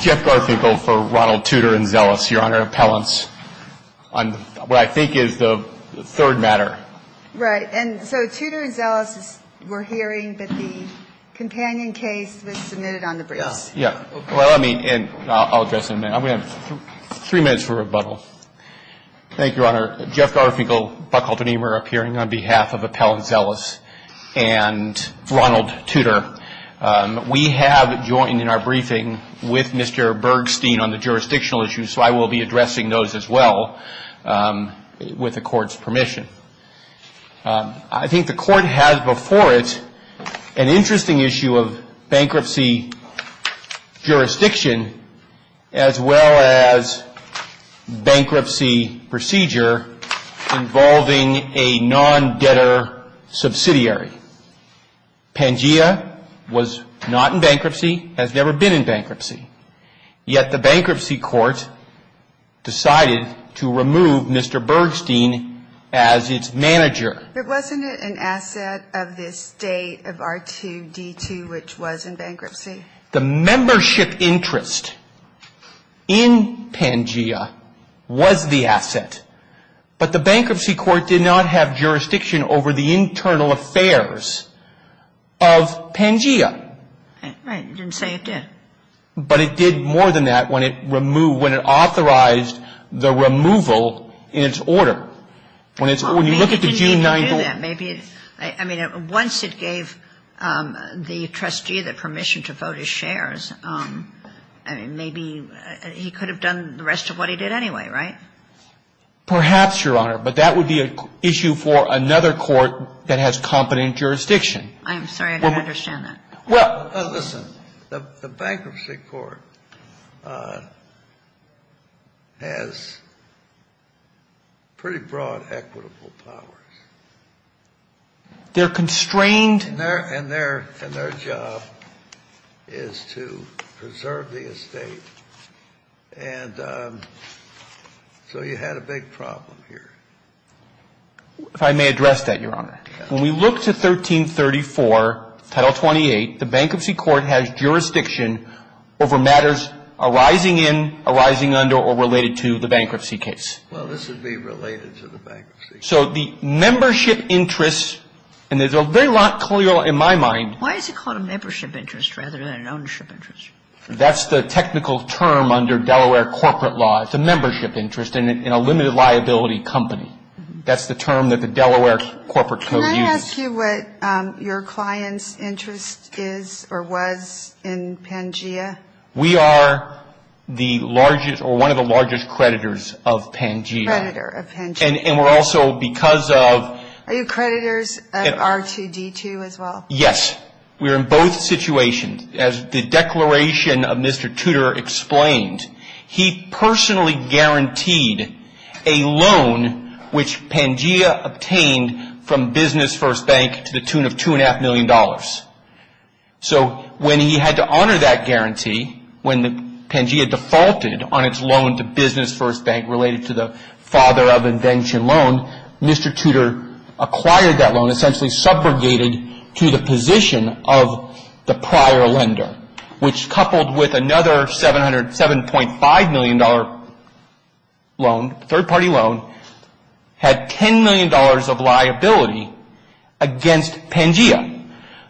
Jeff Garfinkel for Ronald Tutor and Zelus. Your Honor, appellants, on what I think is the third matter. Right. And so Tutor and Zelus were hearing, but the companion case was submitted on the briefs. Yeah. Well, I mean, and I'll address it in a minute. I'm going to have three minutes for rebuttal. Thank you, Your Honor. Jeff Garfinkel, Buckhalter Niemer, appearing on behalf of Appellant Zelus and Ronald Tutor. We have joined in our briefing with Mr. Bergstein on the jurisdictional issues. So I will be addressing those as well with the court's permission. I think the court has before it an interesting issue of bankruptcy jurisdiction as well as bankruptcy procedure involving a non-debtor subsidiary. Pangea was not in bankruptcy, has never been in bankruptcy. Yet the bankruptcy court decided to remove Mr. Bergstein as its manager. It wasn't an asset of this day of R2-D2, which was in bankruptcy. The membership interest in Pangea was the asset, but the bankruptcy court did not have jurisdiction over the internal affairs of Pangea. Right. It didn't say it did. But it did more than that when it removed, when it authorized the removal in its order. I mean, once it gave the trustee the permission to vote his shares, maybe he could have done the rest of what he did anyway, right? Perhaps, Your Honor, but that would be an issue for another court that has competent jurisdiction. I'm sorry, I don't understand that. Well, listen, the bankruptcy court has pretty broad equitable powers. They're constrained. And their job is to preserve the estate. And so you had a big problem here. If I may address that, Your Honor, when we look to 1334, Title 28, the bankruptcy court has jurisdiction over matters arising in, arising under, or related to the bankruptcy case. Well, this would be related to the bankruptcy case. So the membership interest, and there's a very lot clear in my mind. Why is it called a membership interest rather than an ownership interest? That's the technical term under Delaware corporate law. It's a membership interest in a limited liability company. That's the term that the Delaware corporate code uses. Can I ask you what your client's interest is or was in Pangea? We are the largest or one of the largest creditors of Pangea. Creditor of Pangea. And we're also, because of – Are you creditors of R2-D2 as well? Yes. We're in both situations. As the declaration of Mr. Tudor explained, he personally guaranteed a loan which Pangea obtained from Business First Bank to the tune of $2.5 million. So when he had to honor that guarantee, when Pangea defaulted on its loan to Business First Bank related to the father of invention loan, Mr. Tudor acquired that loan, essentially subjugated to the position of the prior lender, which coupled with another $7.5 million loan, third-party loan, had $10 million of liability against Pangea.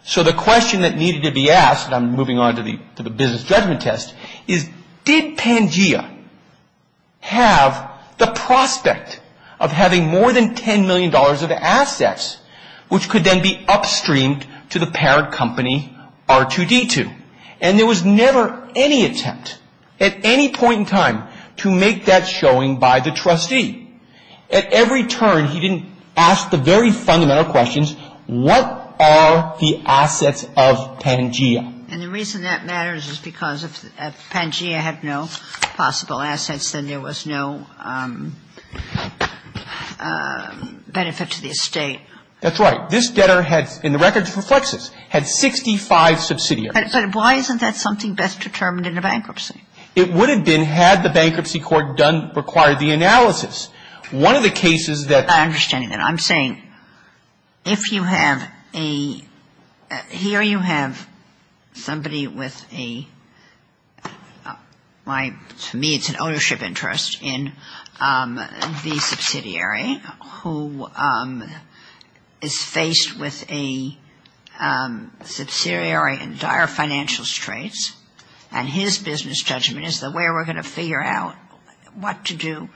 So the question that needed to be asked, and I'm moving on to the business judgment test, is did Pangea have the prospect of having more than $10 million of assets, which could then be upstreamed to the parent company R2-D2? And there was never any attempt at any point in time to make that showing by the trustee. At every turn, he didn't ask the very fundamental questions, what are the assets of Pangea? And the reason that matters is because if Pangea had no possible assets, then there was no benefit to the estate. That's right. This debtor had, in the records for flexes, had 65 subsidiaries. But why isn't that something best determined in a bankruptcy? It would have been had the bankruptcy court done, required the analysis. One of the cases that ---- I'm not understanding that. I'm saying if you have a ---- here you have somebody with a ---- to me it's an ownership interest in the subsidiary who is faced with a subsidiary in dire financial straits. And his business judgment is the way we're going to figure out what to do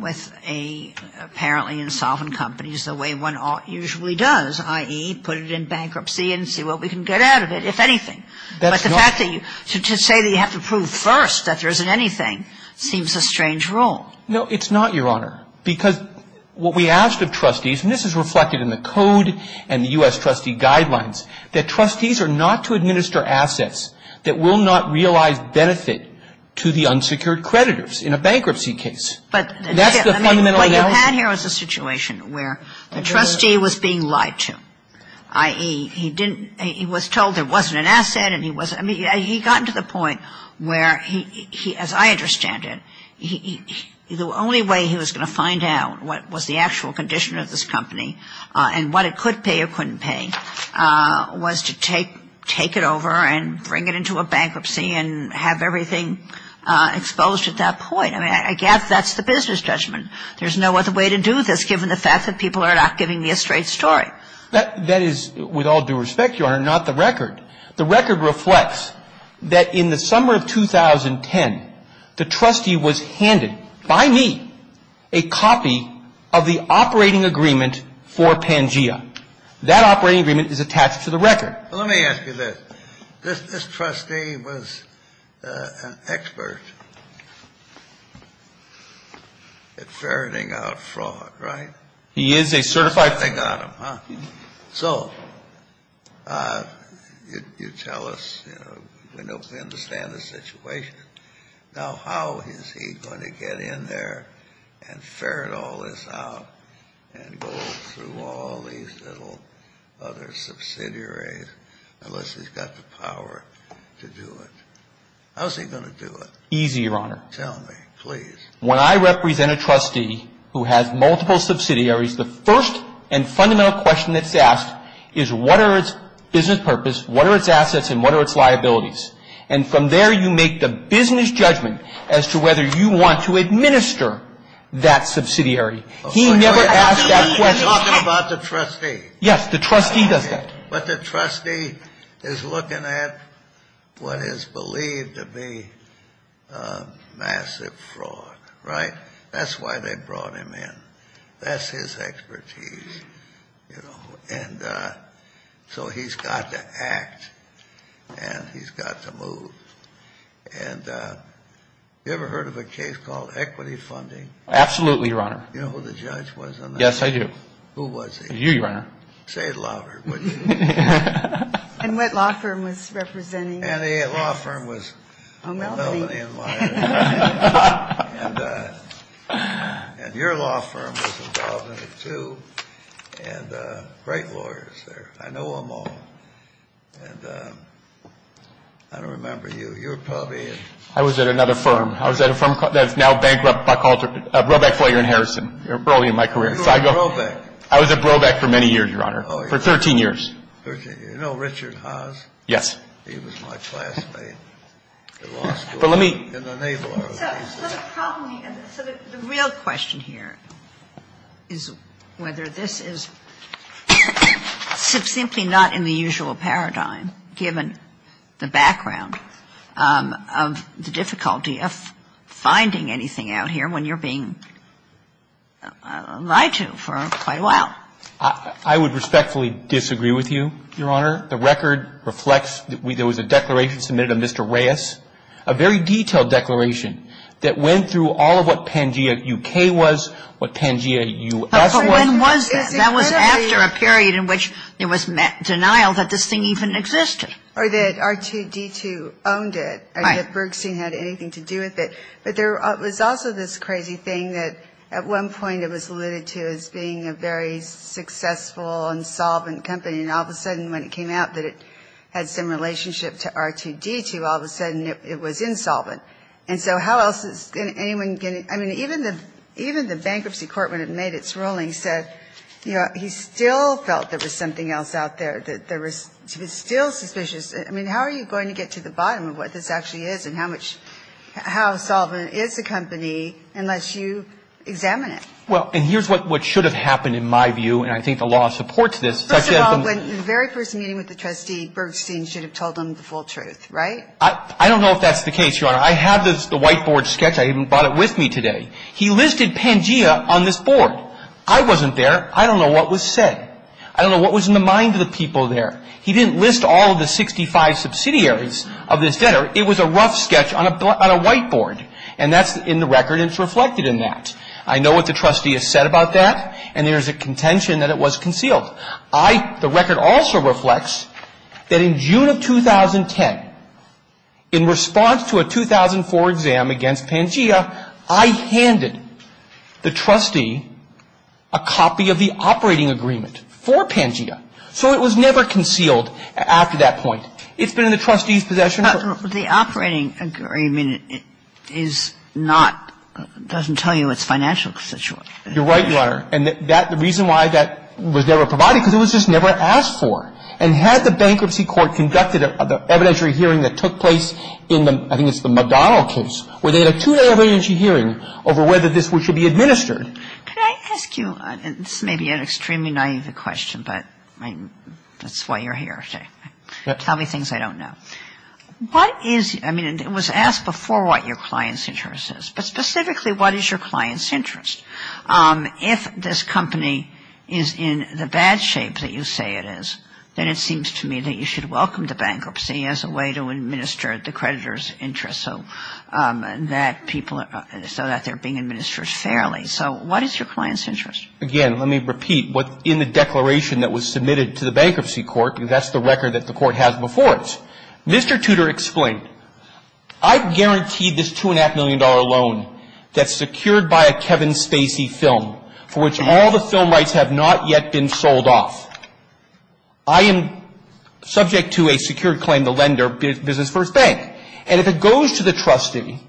with a apparently insolvent company is the way one usually does, i.e., put it in bankruptcy and see what we can get out of it, if anything. That's not ---- But the fact that you ---- to say that you have to prove first that there isn't anything seems a strange rule. No, it's not, Your Honor. Because what we asked of trustees, and this is reflected in the code and the U.S. trustee guidelines, that trustees are not to administer assets that will not realize benefit to the unsecured creditors in a bankruptcy case. That's the fundamental analysis. But what you had here was a situation where the trustee was being lied to, i.e., he didn't ---- he was told there wasn't an asset and he wasn't ---- I mean, he got to the point where he, as I understand it, the only way he was going to find out what was the actual condition of this company and what it could pay or couldn't pay was to take it over and bring it into a bankruptcy and have everything exposed at that point. I mean, I guess that's the business judgment. There's no other way to do this, given the fact that people are not giving me a straight story. That is, with all due respect, Your Honor, not the record. The record reflects that in the summer of 2010, the trustee was handed by me a copy of the operating agreement for Pangea. That operating agreement is attached to the record. Let me ask you this. This trustee was an expert at ferreting out fraud, right? He is a certified ---- They got him, huh? So you tell us, you know, we know, we understand the situation. Now, how is he going to get in there and ferret all this out and go through all these little other subsidiaries unless he's got the power to do it? How's he going to do it? Easy, Your Honor. Tell me, please. When I represent a trustee who has multiple subsidiaries, the first and fundamental question that's asked is, what are its business purpose, what are its assets, and what are its liabilities? And from there, you make the business judgment as to whether you want to administer that subsidiary. He never asked that question. You're talking about the trustee. Yes, the trustee does that. But the trustee is looking at what is believed to be massive fraud, right? That's why they brought him in. That's his expertise, you know, and so he's got to act and he's got to move. And you ever heard of a case called equity funding? Absolutely, Your Honor. You know who the judge was on that? Who was he? You, Your Honor. Say it louder, would you? And what law firm was he representing? And the law firm was Melvin and Meyers. And your law firm was involved in it, too. And great lawyers there. I know them all. And I don't remember you. You were probably in. I was at another firm. I was at a firm that's now bankrupt. I called it Brobeck, Flager, and Harrison. They were early in my career. You were at Brobeck. I was at Brobeck for many years, Your Honor, for 13 years. Oh, yeah. 13 years. You know Richard Haas? Yes. He was my classmate at law school. But let me. In the Naval Army. So the real question here is whether this is simply not in the usual paradigm given the background of the difficulty of finding anything out here when you're being lied to for quite a while. I would respectfully disagree with you, Your Honor. The record reflects that there was a declaration submitted of Mr. Reyes, a very detailed declaration that went through all of what Pangea U.K. was, what Pangea U.S. was. But when was that? That was after a period in which there was denial that this thing even existed. Or that R2-D2 owned it. Right. And that Bergstein had anything to do with it. But there was also this crazy thing that at one point it was alluded to as being a very successful, insolvent company, and all of a sudden when it came out that it had some relationship to R2-D2, all of a sudden it was insolvent. And so how else is anyone going to – I mean, even the bankruptcy court, when it made its ruling, said he still felt there was something else out there. He was still suspicious. I mean, how are you going to get to the bottom of what this actually is and how insolvent is the company unless you examine it? Well, and here's what should have happened in my view, and I think the law supports this. First of all, the very first meeting with the trustee, Bergstein should have told them the full truth, right? I don't know if that's the case, Your Honor. I have the whiteboard sketch. I even brought it with me today. He listed Pangea on this board. I wasn't there. I don't know what was said. I don't know what was in the mind of the people there. He didn't list all of the 65 subsidiaries of this debtor. It was a rough sketch on a whiteboard, and that's in the record and it's reflected in that. I know what the trustee has said about that, and there is a contention that it was concealed. I – the record also reflects that in June of 2010, in response to a 2004 exam against Pangea, I handed the trustee a copy of the operating agreement for Pangea. So it was never concealed after that point. It's been in the trustee's possession. But the operating agreement is not – doesn't tell you its financial situation. You're right, Your Honor. And that – the reason why that was never provided, because it was just never asked for. And had the bankruptcy court conducted the evidentiary hearing that took place in the – I think it's the McDonald case where they had a two-day evidentiary hearing over whether this should be administered. Could I ask you – this may be an extremely naive question, but I mean, that's why you're here today. Tell me things I don't know. What is – I mean, it was asked before what your client's interest is. But specifically, what is your client's interest? If this company is in the bad shape that you say it is, then it seems to me that you should welcome the bankruptcy as a way to administer the creditor's interest so that people – so that they're being administered fairly. So what is your client's interest? Again, let me repeat. In the declaration that was submitted to the bankruptcy court, because that's the record that the court has before it, Mr. Tudor explained, I've guaranteed this $2.5 million loan that's secured by a Kevin Spacey film for which all the film rights have not yet been sold off. I am subject to a secured claim, the lender, Business First Bank. And if it goes to the trustee,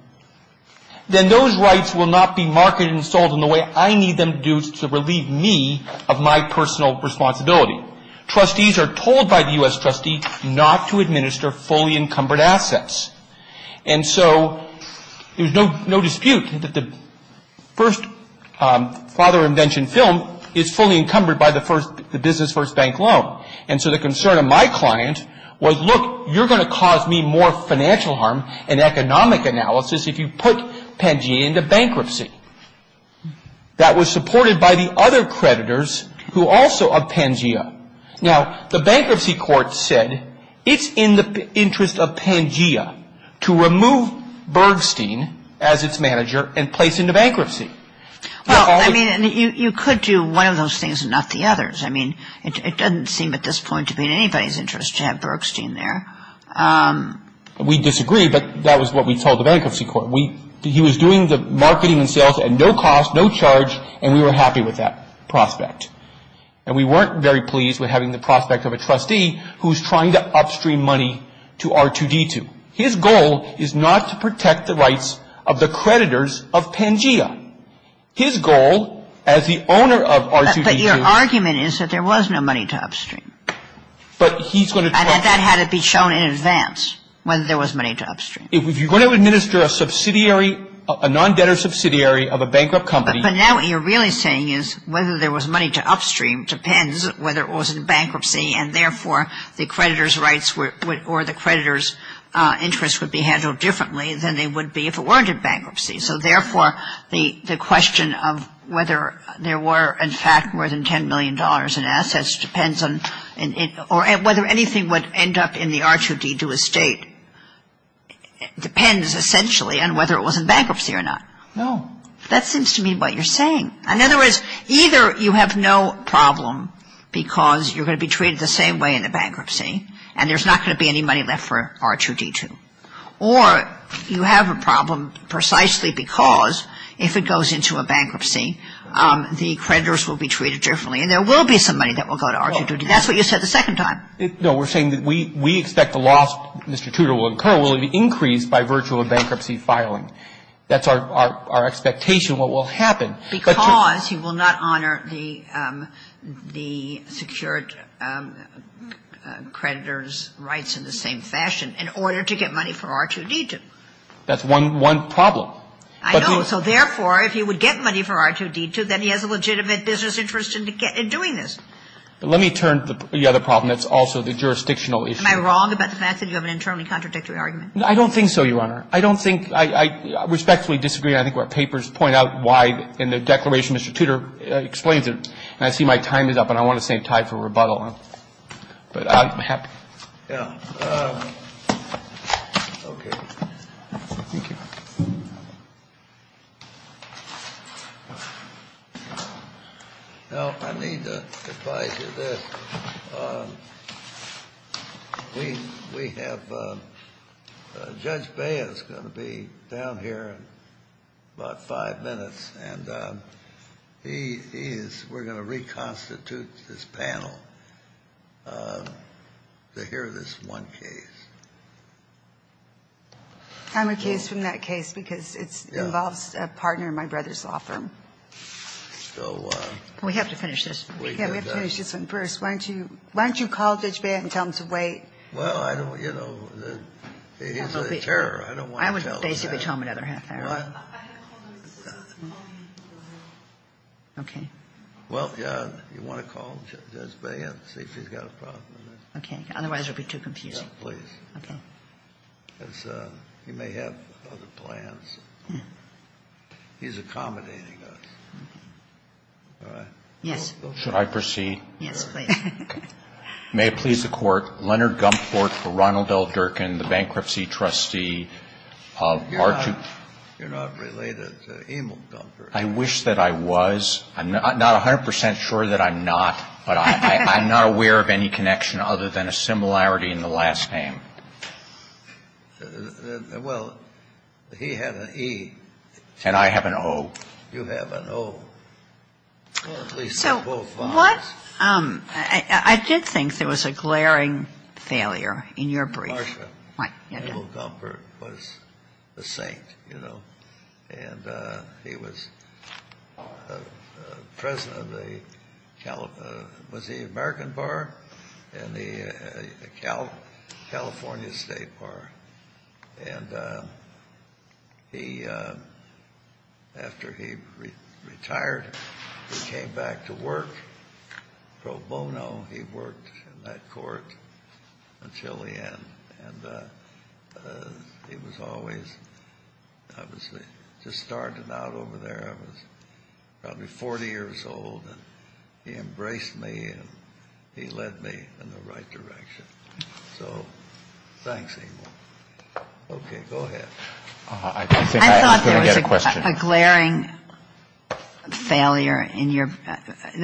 then those rights will not be marketed and sold in the way I need them to do of my personal responsibility. Trustees are told by the U.S. trustee not to administer fully encumbered assets. And so there's no dispute that the first father of invention film is fully encumbered by the first – the Business First Bank loan. And so the concern of my client was, look, you're going to cause me more financial harm and economic analysis if you put Pangea into bankruptcy. That was supported by the other creditors who also are Pangea. Now, the bankruptcy court said it's in the interest of Pangea to remove Bergstein as its manager and place into bankruptcy. Well, I mean, you could do one of those things and not the others. I mean, it doesn't seem at this point to be in anybody's interest to have Bergstein there. We disagree, but that was what we told the bankruptcy court. He was doing the marketing and sales at no cost, no charge, and we were happy with that prospect. And we weren't very pleased with having the prospect of a trustee who's trying to upstream money to R2-D2. His goal is not to protect the rights of the creditors of Pangea. His goal as the owner of R2-D2 – But your argument is that there was no money to upstream. But he's going to – And that had to be shown in advance when there was money to upstream. If you're going to administer a subsidiary, a non-debtor subsidiary of a bankrupt company – But now what you're really saying is whether there was money to upstream depends whether it was in bankruptcy and therefore the creditor's rights or the creditor's interests would be handled differently than they would be if it weren't in bankruptcy. So therefore, the question of whether there were in fact more than $10 million in assets depends on – Or whether anything would end up in the R2-D2 estate depends essentially on whether it was in bankruptcy or not. No. That seems to me what you're saying. In other words, either you have no problem because you're going to be treated the same way in a bankruptcy and there's not going to be any money left for R2-D2, or you have a problem precisely because if it goes into a bankruptcy, the creditors will be treated differently and there will be some money that will go to R2-D2. That's what you said the second time. No. We're saying that we expect the loss, Mr. Tudor, will incur will be increased by virtual bankruptcy filing. That's our expectation, what will happen. Because he will not honor the secured creditor's rights in the same fashion in order to get money for R2-D2. That's one problem. I know. So therefore, if he would get money for R2-D2, then he has a legitimate business interest in doing this. But let me turn to the other problem that's also the jurisdictional issue. Am I wrong about the fact that you have an internally contradictory argument? I don't think so, Your Honor. I don't think – I respectfully disagree. I think our papers point out why in the declaration Mr. Tudor explains it. And I see my time is up and I want to stay tied for rebuttal. But I'm happy. Yeah. Okay. Thank you. Now, I need to advise you this. We have – Judge Bea is going to be down here in about five minutes. And he is – we're going to reconstitute this panel to hear this one case. I'm a case from that case because it involves a partner in my brother's law firm. So – We have to finish this. Yeah, we have to finish this one first. Why don't you – why don't you call Judge Bea and tell him to wait? Well, I don't – you know, he's a terror. I don't want to tell him that. I would basically tell him another half hour. Okay. Well, you want to call Judge Bea and see if he's got a problem. Okay. Otherwise, it would be too confusing. Yes, please. Okay. Because he may have other plans. He's accommodating us. All right. Yes. Should I proceed? Yes, please. May it please the Court, Leonard Gumport for Ronald L. Durkin, the bankruptcy trustee of R2 – You're not related to Emil Gumport. I wish that I was. I'm not 100 percent sure that I'm not. But I'm not aware of any connection other than a similarity in the last name. Well, he had an E. And I have an O. You have an O. So what – I did think there was a glaring failure in your brief. Marcia. What? Emil Gumport was a saint, you know, And he was president of the – was the American Bar and the California State Bar. And he – after he retired, he came back to work pro bono. He worked in that court until the end. And he was always – I was just starting out over there. I was probably 40 years old. And he embraced me and he led me in the right direction. So thanks, Emil. Okay, go ahead. I thought there was a glaring failure in your –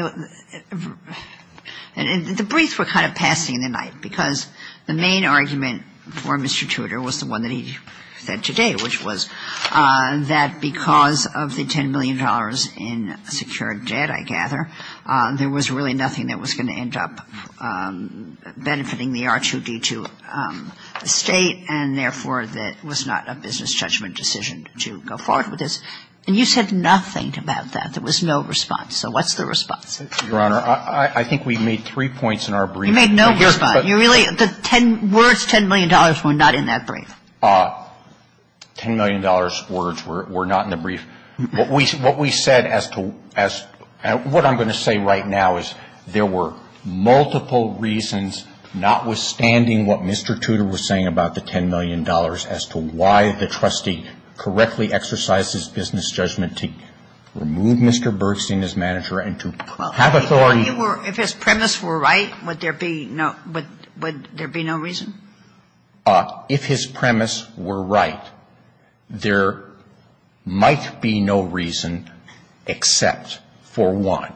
And the briefs were kind of passing the night because the main argument for Mr. Tudor was the one that he said today, which was that because of the $10 million in secured debt, I gather, there was really nothing that was going to end up benefiting the R2-D2 state and, therefore, that it was not a business judgment decision to go forward with this. And you said nothing about that. There was no response. So what's the response? Your Honor, I think we made three points in our brief. You made no response. You really – the words $10 million were not in that brief. $10 million words were not in the brief. What we said as to – what I'm going to say right now is there were multiple reasons, notwithstanding what Mr. Tudor was saying about the $10 million, as to why the trustee correctly exercised his business judgment to remove Mr. Bergstein as manager and to have authority – Well, if he were – if his premise were right, would there be no – would there be no reason? If his premise were right, there might be no reason except for one.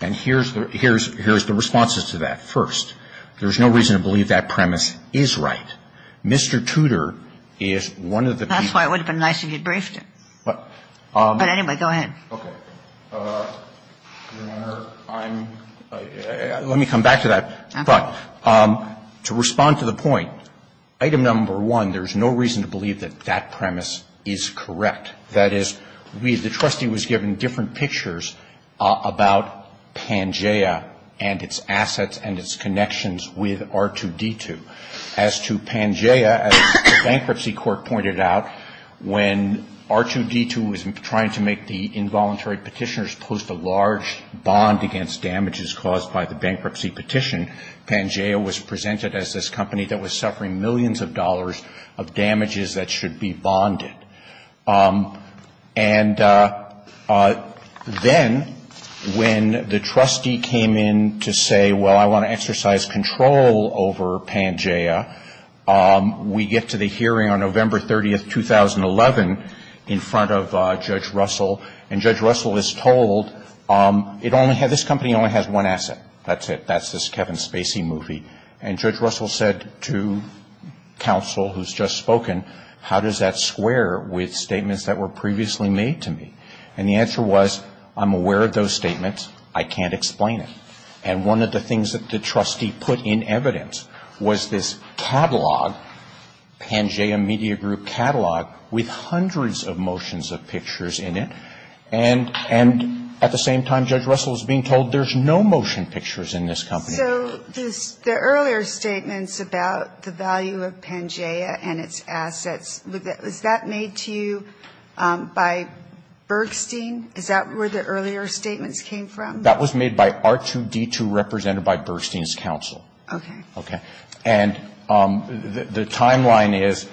And here's the – here's the responses to that. First, there's no reason to believe that premise is right. Mr. Tudor is one of the people – That's why it would have been nice if you had briefed him. But anyway, go ahead. Okay. Your Honor, I'm – let me come back to that. Okay. But to respond to the point, item number one, there's no reason to believe that that premise is correct. That is, we – the trustee was given different pictures about Pangea and its assets and its connections with R2-D2. As to Pangea, as the Bankruptcy Court pointed out, when R2-D2 was trying to make the involuntary petitioners post a large bond against damages caused by the bankruptcy petition, Pangea was presented as this company that was suffering millions of dollars of damages that should be bonded. And then when the trustee came in to say, well, I want to exercise control over Pangea, we get to the hearing on November 30th, 2011, in front of Judge Russell. And Judge Russell is told it only – this company only has one asset. That's it. That's this Kevin Spacey movie. And Judge Russell said to counsel who's just spoken, how does that square with statements that were previously made to me? And the answer was, I'm aware of those statements. I can't explain it. And one of the things that the trustee put in evidence was this catalog, Pangea Media Group catalog, with hundreds of motions of pictures in it. And at the same time, Judge Russell is being told there's no motion pictures in this company. So the earlier statements about the value of Pangea and its assets, was that made to you by Bergstein? Is that where the earlier statements came from? That was made by R2D2, represented by Bergstein's counsel. Okay. Okay. And the timeline is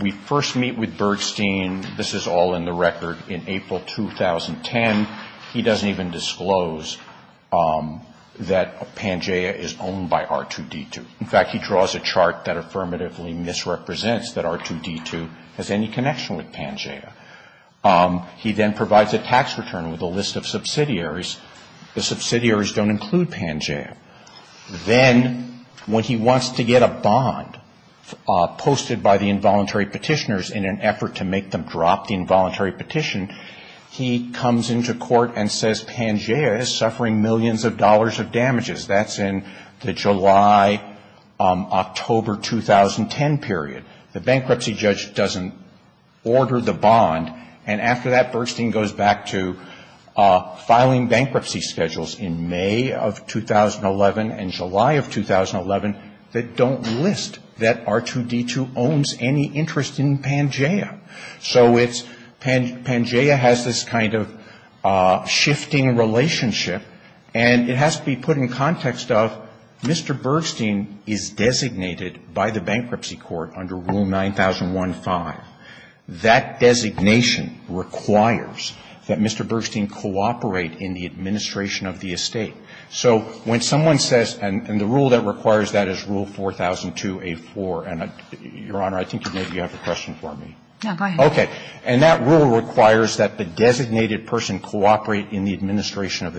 we first meet with Bergstein, this is all in the record, in April 2010. He doesn't even disclose that Pangea is owned by R2D2. In fact, he draws a chart that affirmatively misrepresents that R2D2 has any connection with Pangea. He then provides a tax return with a list of subsidiaries. The subsidiaries don't include Pangea. Then when he wants to get a bond posted by the involuntary petitioners in an effort to make them drop the involuntary petition, he comes into court and says Pangea is suffering millions of dollars of damages. That's in the July, October 2010 period. The bankruptcy judge doesn't order the bond. And after that, Bergstein goes back to filing bankruptcy schedules in May of 2011 and July of 2011 that don't list that R2D2 owns any interest in Pangea. So it's Pangea has this kind of shifting relationship, and it has to be put in context of Mr. Bergstein is designated by the Bankruptcy Court under Rule 9001-5. That designation requires that Mr. Bergstein cooperate in the administration of the estate. So when someone says, and the rule that requires that is Rule 4002a-4, and Your Honor, I think maybe you have a question for me. Now, go ahead. Okay. And that rule requires that the designated person cooperate in the administration of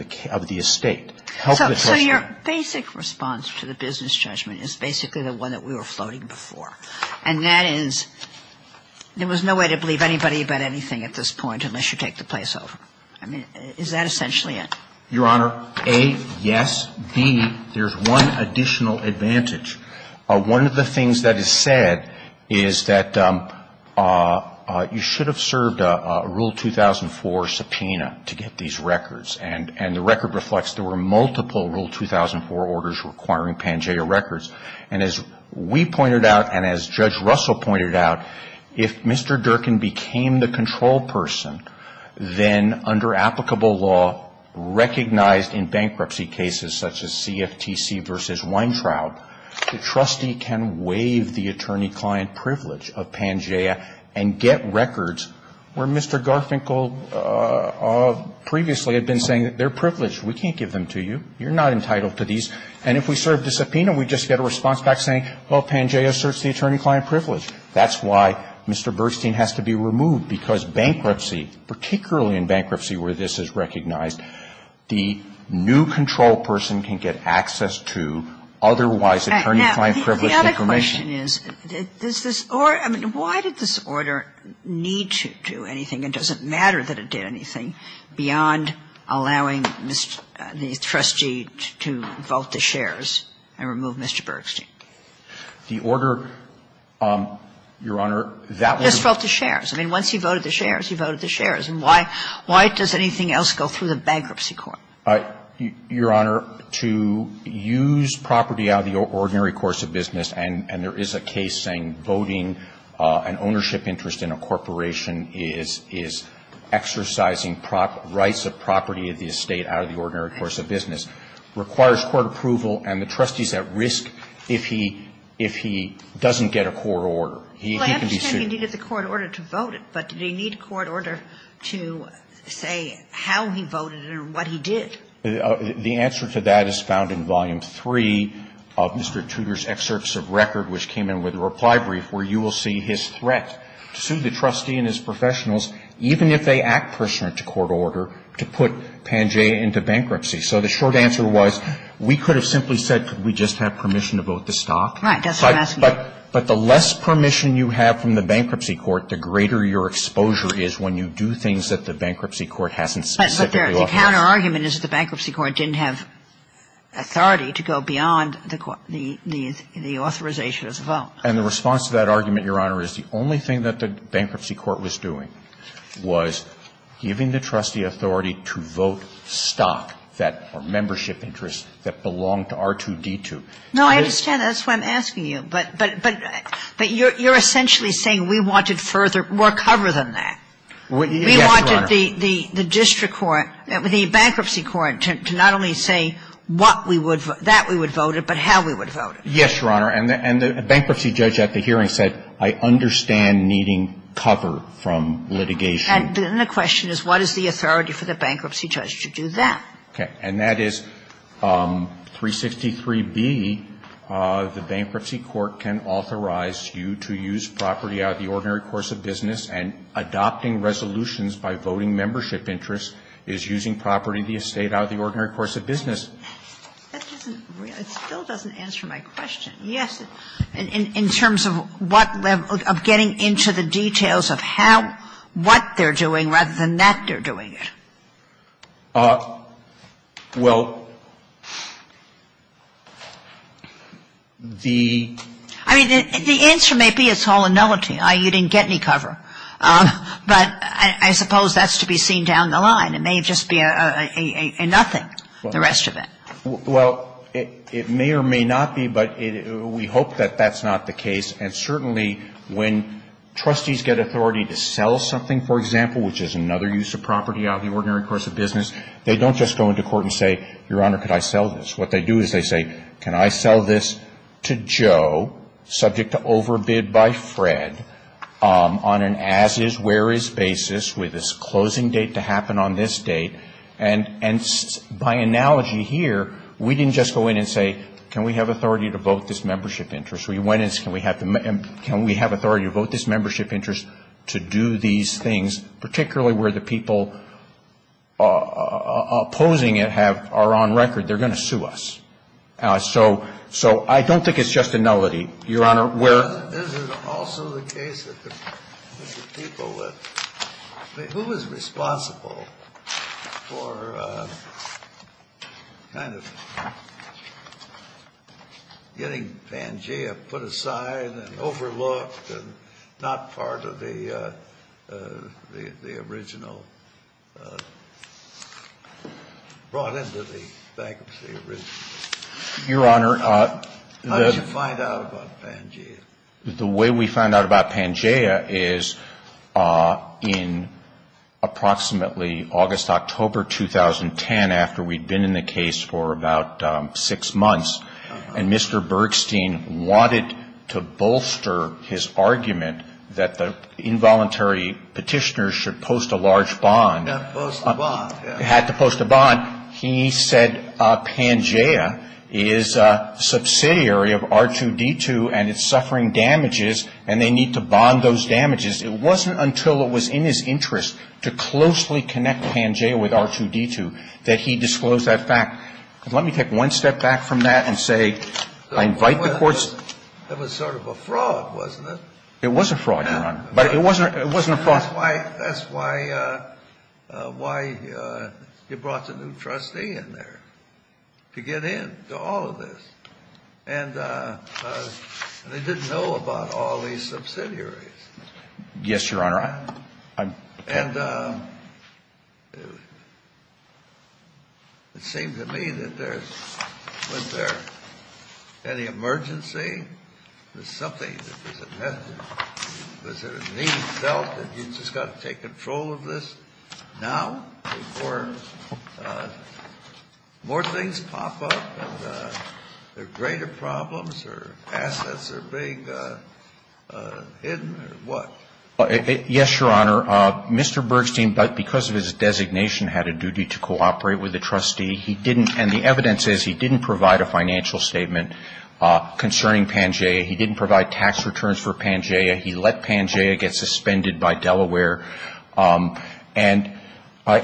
the estate. So your basic response to the business judgment is basically the one that we were floating before, and that is there was no way to believe anybody about anything at this point unless you take the place over. I mean, is that essentially it? Your Honor, A, yes. B, there's one additional advantage. One of the things that is said is that you should have served a Rule 2004 subpoena to get these records, and the record reflects there were multiple Rule 2004 orders requiring Pangea records. And as we pointed out, and as Judge Russell pointed out, if Mr. Durkin became the control person, then under applicable law, recognized in bankruptcy cases such as this, the trustee can waive the attorney-client privilege of Pangea and get records where Mr. Garfinkel previously had been saying that they're privileged. We can't give them to you. You're not entitled to these. And if we serve the subpoena, we just get a response back saying, well, Pangea asserts the attorney-client privilege. That's why Mr. Bergstein has to be removed, because bankruptcy, particularly in bankruptcy where this is recognized, the new control person can get access to otherwise attorney-client privilege information. The other question is, does this order – I mean, why did this order need to do anything? It doesn't matter that it did anything beyond allowing the trustee to vote the shares and remove Mr. Bergstein. The order, Your Honor, that was – Just vote the shares. I mean, once he voted the shares, he voted the shares. And why does anything else go through the bankruptcy court? Your Honor, to use property out of the ordinary course of business – and there is a case saying voting an ownership interest in a corporation is exercising rights of property of the estate out of the ordinary course of business – requires court approval, and the trustee is at risk if he doesn't get a court order. He can be sued. I understand he needed the court order to vote it, but did he need a court order to say how he voted it or what he did? The answer to that is found in Volume 3 of Mr. Tudor's excerpts of record, which came in with a reply brief, where you will see his threat to sue the trustee and his professionals, even if they act pursuant to court order, to put Pangea into bankruptcy. So the short answer was, we could have simply said, could we just have permission That's what I'm asking. But the less permission you have from the bankruptcy court, the greater your exposure is when you do things that the bankruptcy court hasn't specifically authorized. But the counterargument is that the bankruptcy court didn't have authority to go beyond the authorization of the vote. And the response to that argument, Your Honor, is the only thing that the bankruptcy court was doing was giving the trustee authority to vote stock, that membership interest that belonged to R2-D2. Now, I understand. That's why I'm asking you. But you're essentially saying we wanted further, more cover than that. Yes, Your Honor. We wanted the district court, the bankruptcy court, to not only say what we would vote, that we would vote it, but how we would vote it. Yes, Your Honor. And the bankruptcy judge at the hearing said, I understand needing cover from litigation. And the question is, what is the authority for the bankruptcy judge to do that? Okay. And that is, 363B, the bankruptcy court can authorize you to use property out of the ordinary course of business, and adopting resolutions by voting membership interest is using property of the estate out of the ordinary course of business. That doesn't really, it still doesn't answer my question. Yes. In terms of what level, of getting into the details of how, what they're doing, rather than that they're doing it. Well, the ---- I mean, the answer may be it's all a nullity. You didn't get any cover. But I suppose that's to be seen down the line. It may just be a nothing, the rest of it. Well, it may or may not be, but we hope that that's not the case. And certainly when trustees get authority to sell something, for example, which is another use of property out of the ordinary course of business, they don't just go into court and say, Your Honor, could I sell this? What they do is they say, can I sell this to Joe, subject to overbid by Fred, on an as-is, where-is basis, with his closing date to happen on this date. And by analogy here, we didn't just go in and say, can we have authority to vote this membership interest. We went and said, can we have authority to vote this membership interest to do these things, particularly where the people opposing it have ---- are on record, they're going to sue us. So I don't think it's just a nullity. Your Honor, where ---- But is it also the case that the people that ---- I mean, who was responsible for kind of getting Pangea put aside and overlooked and not part of the original ---- brought into the bankruptcy original? Your Honor, the ---- How did you find out about Pangea? The way we found out about Pangea is in approximately August, October 2010, after we'd been in the case for about six months, and Mr. Bergstein wanted to bolster his argument that the involuntary Petitioners should post a large bond. Had to post a bond. He said Pangea is a subsidiary of R2-D2 and it's suffering damages and they need to bond those damages. It wasn't until it was in his interest to closely connect Pangea with R2-D2 that he disclosed that fact. Let me take one step back from that and say, I invite the Court's ---- It was sort of a fraud, wasn't it? It was a fraud, Your Honor. But it wasn't a fraud. That's why you brought the new trustee in there, to get in to all of this. And they didn't know about all these subsidiaries. Yes, Your Honor. And it seems to me that there's ---- was there any emergency? Was something that was a mess? Was there a need felt that you just got to take control of this now before more things pop up and there are greater problems or assets are being hidden or what? Yes, Your Honor. Mr. Bergstein, because of his designation, had a duty to cooperate with the trustee. He didn't, and the evidence says he didn't provide a financial statement concerning Pangea. He didn't provide tax returns for Pangea. He let Pangea get suspended by Delaware. And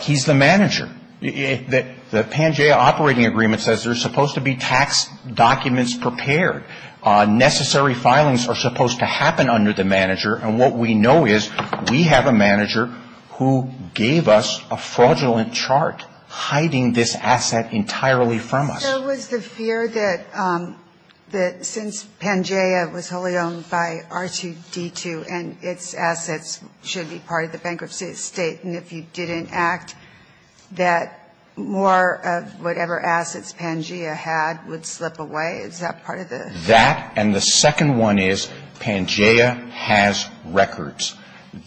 he's the manager. The Pangea operating agreement says there's supposed to be tax documents prepared. Necessary filings are supposed to happen under the manager. And what we know is we have a manager who gave us a fraudulent chart hiding this asset entirely from us. There was the fear that since Pangea was wholly owned by R2D2 and its assets should be part of the bankruptcy estate, and if you didn't act, that more of whatever assets Pangea had would slip away? Is that part of the ---- That and the second one is Pangea has records.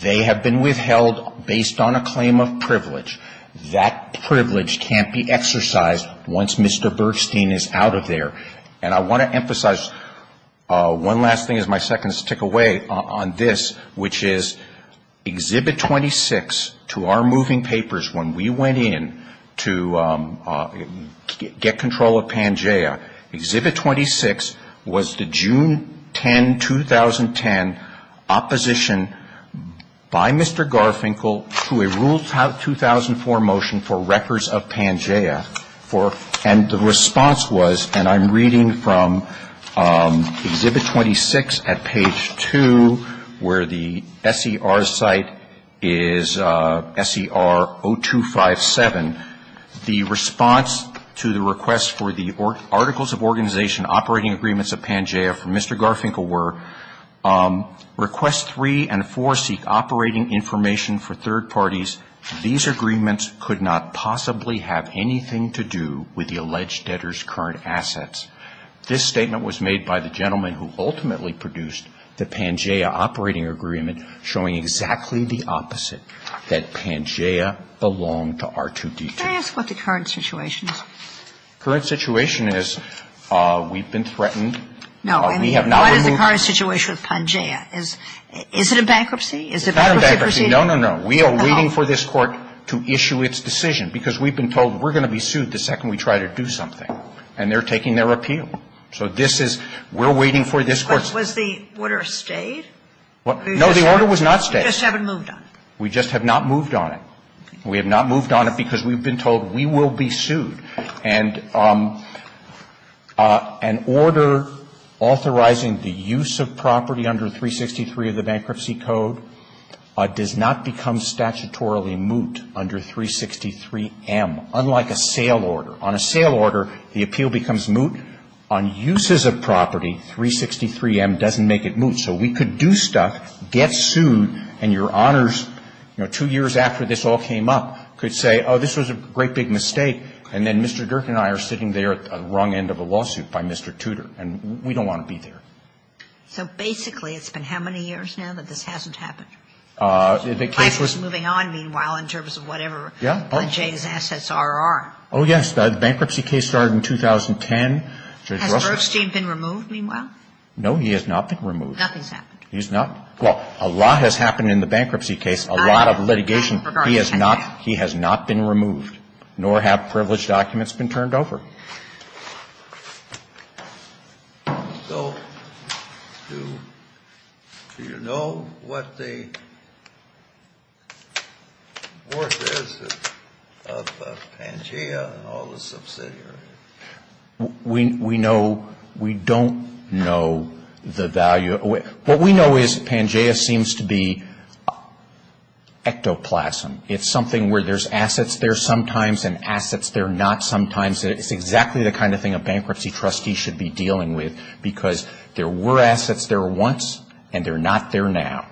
They have been withheld based on a claim of privilege. That privilege can't be exercised once Mr. Bergstein is out of there. And I want to emphasize one last thing as my seconds tick away on this, which is Exhibit 26 to our moving papers when we went in to get control of Pangea. Exhibit 26 was the June 10, 2010 opposition by Mr. Garfinkel to a ruled 2004 motion for records of Pangea. And the response was, and I'm reading from Exhibit 26 at page 2 where the SER site is SER 0257. The response to the request for the articles of organization operating agreements of Pangea from Mr. Garfinkel were, Request 3 and 4 seek operating information for third parties. These agreements could not possibly have anything to do with the alleged debtors' current assets. This statement was made by the gentleman who ultimately produced the Pangea operating agreement, showing exactly the opposite, that Pangea belonged to R2D2. Could I ask what the current situation is? The current situation is we've been threatened. We have not been moved on it. No. And what is the current situation with Pangea? Is it a bankruptcy? Is it a bankruptcy proceeding? It's not a bankruptcy. No, no, no. We are waiting for this Court to issue its decision because we've been told we're going to be sued the second we try to do something. And they're taking their appeal. So this is we're waiting for this Court's. But was the order stayed? No, the order was not stayed. You just haven't moved on it. We just have not moved on it. We have not moved on it because we've been told we will be sued. And an order authorizing the use of property under 363 of the Bankruptcy Code does not become statutorily moot under 363M, unlike a sale order. On a sale order, the appeal becomes moot. On uses of property, 363M doesn't make it moot. So we could do stuff, get sued, and your honors, you know, two years after this all came up, could say, oh, this was a great big mistake, and then Mr. Dirk and I are sitting there at the wrong end of a lawsuit by Mr. Tudor, and we don't want to be there. So basically it's been how many years now that this hasn't happened? The case was – Life is moving on, meanwhile, in terms of whatever Jay's assets are. Oh, yes. The bankruptcy case started in 2010. Has Bergstein been removed, meanwhile? No, he has not been removed. Nothing's happened. He's not – well, a lot has happened in the bankruptcy case, a lot of litigation. He has not been removed, nor have privileged documents been turned over. So do you know what the worth is of Pangea and all the subsidiaries? We know – we don't know the value. What we know is Pangea seems to be ectoplasm. It's something where there's assets there sometimes and assets there not sometimes. It's exactly the kind of thing a bankruptcy trustee should be dealing with because there were assets there once, and they're not there now.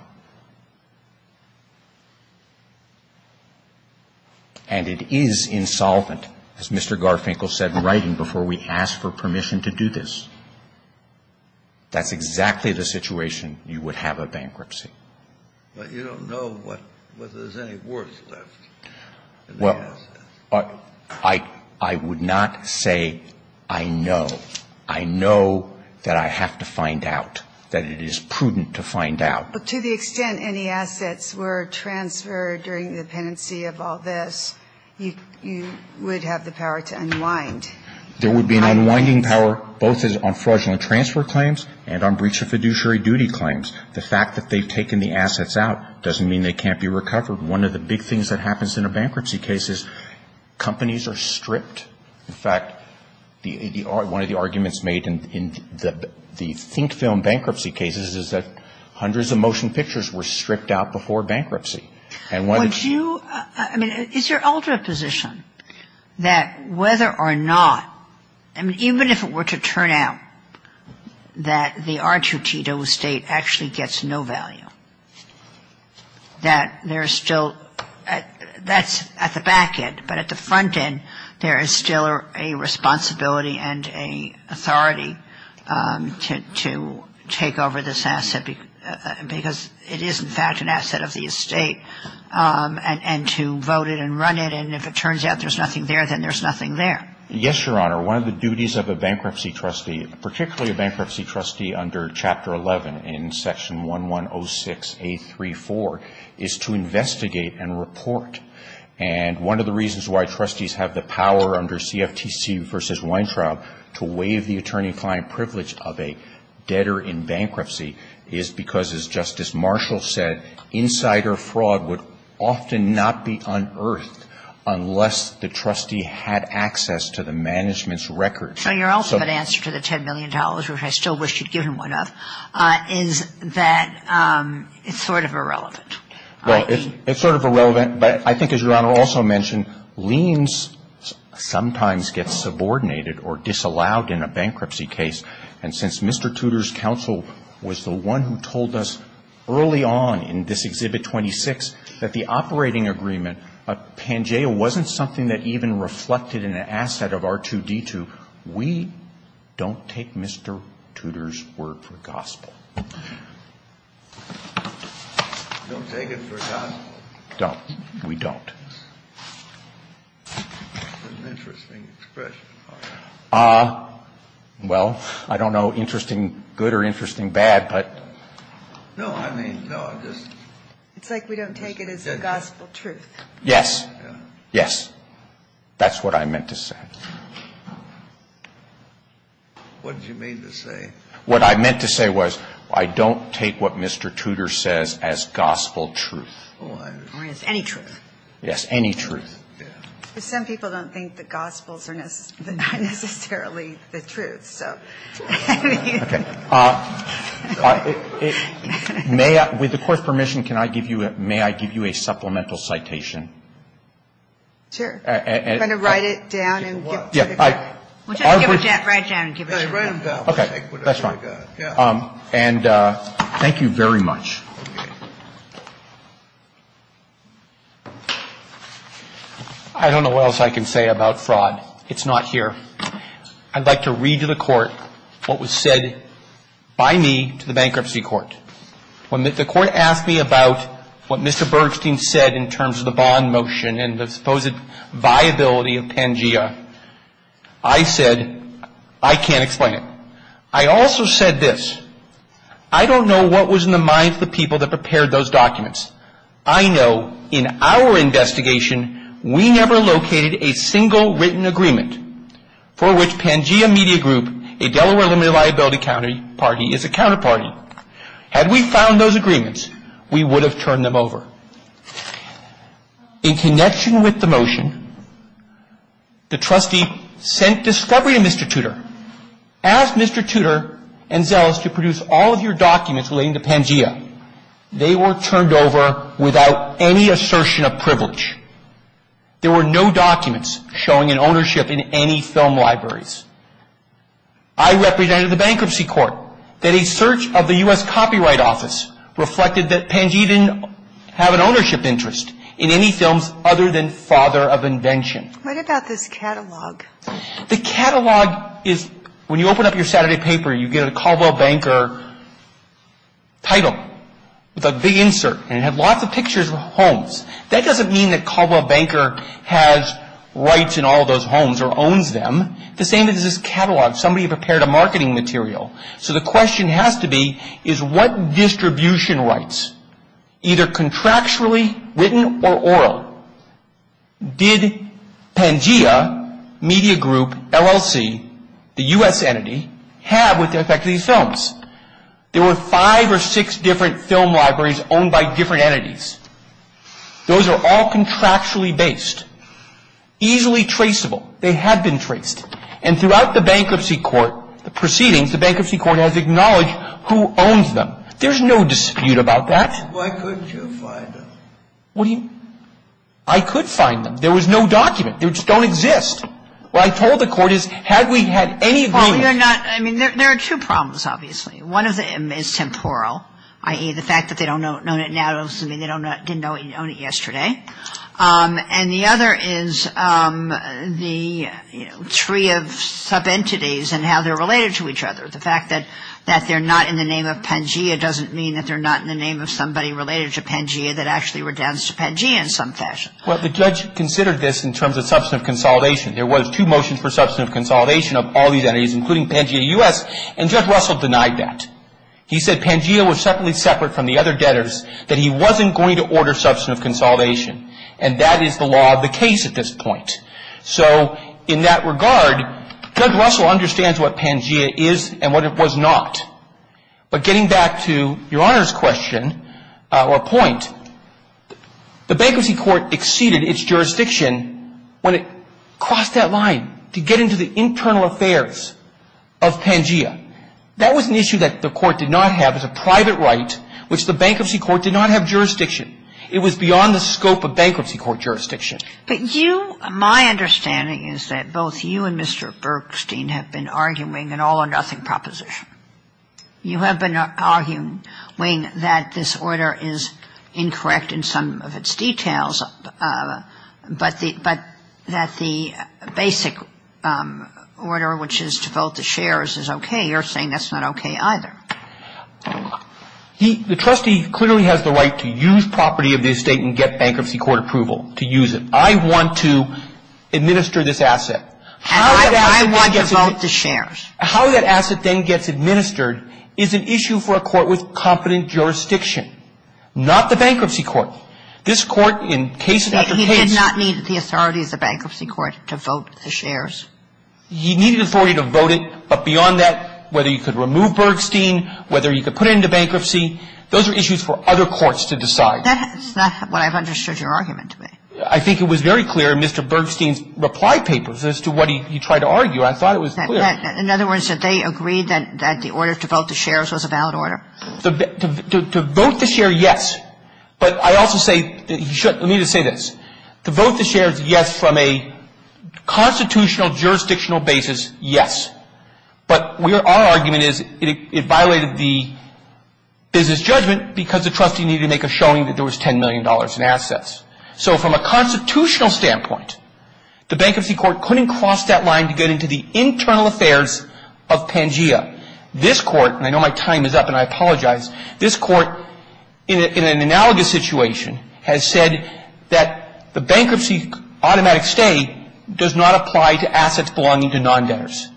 And it is insolvent, as Mr. Garfinkel said in writing, before we asked for permission to do this. That's exactly the situation you would have a bankruptcy. But you don't know whether there's any worth left in the assets. Well, I would not say I know. I know that I have to find out, that it is prudent to find out. But to the extent any assets were transferred during the pendency of all this, you would have the power to unwind. There would be an unwinding power both on fraudulent transfer claims and on breach of fiduciary duty claims. The fact that they've taken the assets out doesn't mean they can't be recovered. One of the big things that happens in a bankruptcy case is companies are stripped. In fact, one of the arguments made in the think film bankruptcy cases is that hundreds of motion pictures were stripped out before bankruptcy. Would you ‑‑ I mean, is your ultimate position that whether or not, I mean, even if it were to turn out that the R2T0 estate actually gets no value, that there's still ‑‑ that's at the back end, but at the front end there is still a responsibility and an authority to take over this asset because it is, in fact, an asset of the estate. And to vote it and run it. And if it turns out there's nothing there, then there's nothing there. Yes, Your Honor. One of the duties of a bankruptcy trustee, particularly a bankruptcy trustee under Chapter 11 in Section 1106A34, is to investigate and report. And one of the reasons why trustees have the power under CFTC v. Weintraub to waive the attorney client privilege of a debtor in bankruptcy is because, as Justice Marshall said, insider fraud would often not be unearthed unless the trustee had access to the management's records. So your ultimate answer to the $10 million, which I still wish you'd given one of, is that it's sort of irrelevant. Well, it's sort of irrelevant, but I think, as Your Honor also mentioned, liens sometimes get subordinated or disallowed in a bankruptcy case. And since Mr. Tudor's counsel was the one who told us early on in this Exhibit 26 that the operating agreement, Pangea, wasn't something that even reflected in an asset of R2-D2, we don't take Mr. Tudor's word for gospel. Don't take it for gospel. Don't. We don't. That's an interesting expression. Well, I don't know, interesting good or interesting bad, but. No, I mean, no, I just. It's like we don't take it as a gospel truth. Yes. Yes. That's what I meant to say. What did you mean to say? What I meant to say was I don't take what Mr. Tudor says as gospel truth. Or as any truth. Yes, any truth. Some people don't think the gospels are necessarily the truth, so. May I, with the Court's permission, can I give you, may I give you a supplemental citation? Sure. Kind of write it down and give it to the Court. Write it down and give it to the Court. Okay. That's fine. And thank you very much. I don't know what else I can say about fraud. It's not here. I'd like to read to the Court what was said by me to the bankruptcy court. When the Court asked me about what Mr. Bergstein said in terms of the bond motion and the supposed viability of Pangea, I said, I can't explain it. I also said this. I don't know what was in the minds of the people that prepared those documents. I know in our investigation, we never located a single written agreement for which Pangea Media Group, a Delaware limited liability party, is a counterparty. Had we found those agreements, we would have turned them over. In connection with the motion, the trustee sent discovery to Mr. Tudor, asked Mr. Tudor and Zellis to produce all of your documents relating to Pangea. They were turned over without any assertion of privilege. There were no documents showing an ownership in any film libraries. I represented the bankruptcy court that a search of the U.S. Copyright Office reflected that Pangea didn't have an ownership interest in any films other than Father of Invention. What about this catalog? The catalog is, when you open up your Saturday paper, you get a Caldwell Banker title with a big insert. And it had lots of pictures of homes. That doesn't mean that Caldwell Banker has rights in all of those homes or owns them. The same is this catalog. Somebody prepared a marketing material. So the question has to be, is what distribution rights, either contractually written or oral, did Pangea Media Group, LLC, the U.S. entity, have with respect to these films? There were five or six different film libraries owned by different entities. Those are all contractually based, easily traceable. They have been traced. And throughout the bankruptcy court proceedings, the bankruptcy court has acknowledged who owns them. There's no dispute about that. Why couldn't you find them? What do you mean? I could find them. There was no document. They just don't exist. What I told the court is, had we had any agreement. Paul, you're not. I mean, there are two problems, obviously. One of them is temporal, i.e., the fact that they don't own it now doesn't mean they didn't own it yesterday. And the other is the, you know, tree of subentities and how they're related to each other. The fact that they're not in the name of Pangea doesn't mean that they're not in the name of somebody related to Pangea that actually redounds to Pangea in some fashion. Well, the judge considered this in terms of substantive consolidation. There was two motions for substantive consolidation of all these entities, including Pangea U.S., and Judge Russell denied that. He said Pangea was separately separate from the other debtors, that he wasn't going to order substantive consolidation. And that is the law of the case at this point. So in that regard, Judge Russell understands what Pangea is and what it was not. But getting back to Your Honor's question or point, the Bankruptcy Court exceeded its jurisdiction when it crossed that line to get into the internal affairs of Pangea. That was an issue that the Court did not have as a private right, which the Bankruptcy Court did not have jurisdiction. It was beyond the scope of Bankruptcy Court jurisdiction. But you, my understanding is that both you and Mr. Bergstein have been arguing an all-or-nothing proposition. You have been arguing that this order is incorrect in some of its details, but that the basic order, which is to vote the shares, is okay. You're saying that's not okay either. The trustee clearly has the right to use property of the estate and get Bankruptcy Court approval to use it. I want to administer this asset. And I want to vote the shares. How that asset then gets administered is an issue for a court with competent jurisdiction, not the Bankruptcy Court. This Court, in case after case He did not need the authority of the Bankruptcy Court to vote the shares. He needed authority to vote it. But beyond that, whether you could remove Bergstein, whether you could put it into bankruptcy, those are issues for other courts to decide. That's not what I've understood your argument to be. I think it was very clear in Mr. Bergstein's reply papers as to what he tried to argue. I thought it was clear. In other words, did they agree that the order to vote the shares was a valid order? To vote the share, yes. But I also say that he should – let me just say this. To vote the shares, yes, from a constitutional jurisdictional basis, yes. But our argument is it violated the business judgment because the trustee needed to make a showing that there was $10 million in assets. So from a constitutional standpoint, the Bankruptcy Court couldn't cross that line to get into the internal affairs of Pangea. This Court, and I know my time is up and I apologize, this Court, in an analogous situation, has said that the bankruptcy automatic stay does not apply to assets belonging to non-debtors.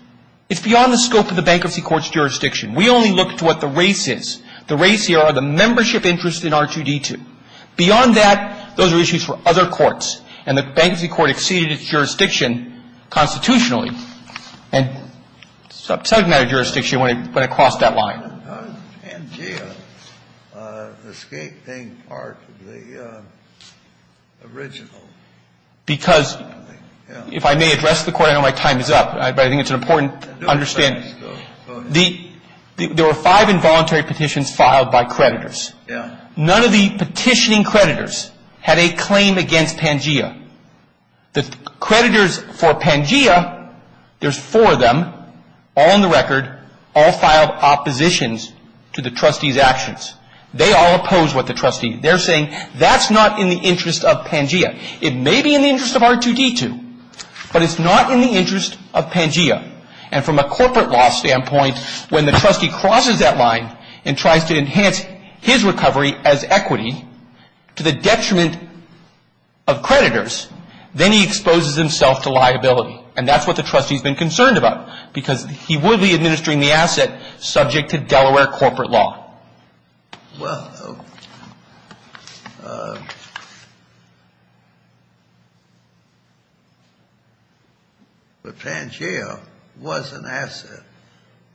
It's beyond the scope of the Bankruptcy Court's jurisdiction. We only look to what the race is. The race here are the membership interests in R2-D2. Beyond that, those are issues for other courts. And the Bankruptcy Court exceeded its jurisdiction constitutionally. And subject matter jurisdiction went across that line. Kennedy, how did Pangea escape being part of the original? Because, if I may address the Court, I know my time is up, but I think it's an important understanding. Go ahead. There were five involuntary petitions filed by creditors. Yeah. None of the petitioning creditors had a claim against Pangea. The creditors for Pangea, there's four of them, all on the record, all filed oppositions to the trustee's actions. They all oppose what the trustee, they're saying that's not in the interest of Pangea. It may be in the interest of R2-D2, but it's not in the interest of Pangea. And from a corporate law standpoint, when the trustee crosses that line and tries to enhance his recovery as equity, to the detriment of creditors, then he exposes himself to liability. And that's what the trustee's been concerned about, because he would be administering the asset subject to Delaware corporate law. Well, but Pangea was an asset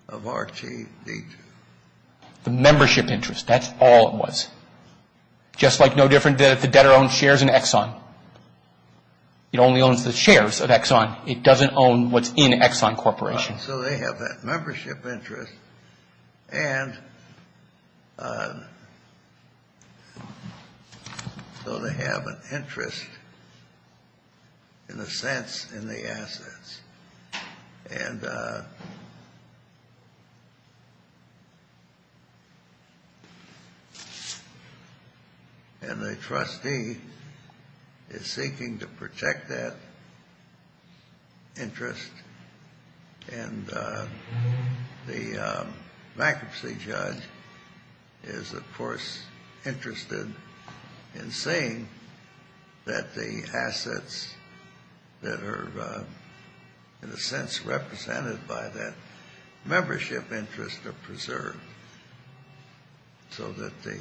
of R2-D2. The membership interest, that's all it was. Just like no different than if the debtor owns shares in Exxon. It only owns the shares of Exxon. It doesn't own what's in Exxon Corporation. So they have that membership interest, and so they have an interest, in a sense, in the assets. And the trustee is seeking to protect that interest, and the bankruptcy judge is, of course, interested in saying that the assets that are in a sense represented by that membership interest are preserved so that the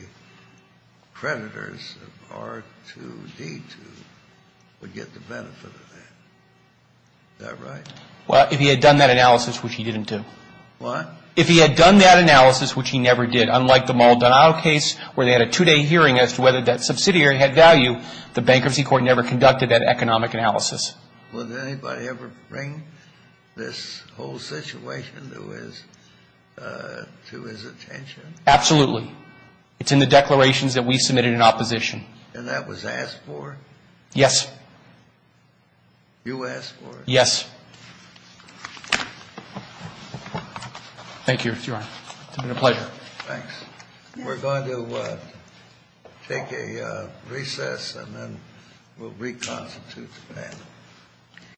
creditors of R2-D2 would get the benefit of that. Is that right? Well, if he had done that analysis, which he didn't do. What? If he had done that analysis, which he never did, unlike the Maldonado case where they had a two-day hearing as to whether that subsidiary had value, the bankruptcy court never conducted that economic analysis. Would anybody ever bring this whole situation to his attention? Absolutely. It's in the declarations that we submitted in opposition. And that was asked for? Yes. You asked for it? Yes. Thank you, Your Honor. It's been a pleasure. Thanks. We're going to take a recess, and then we'll reconstitute the panel.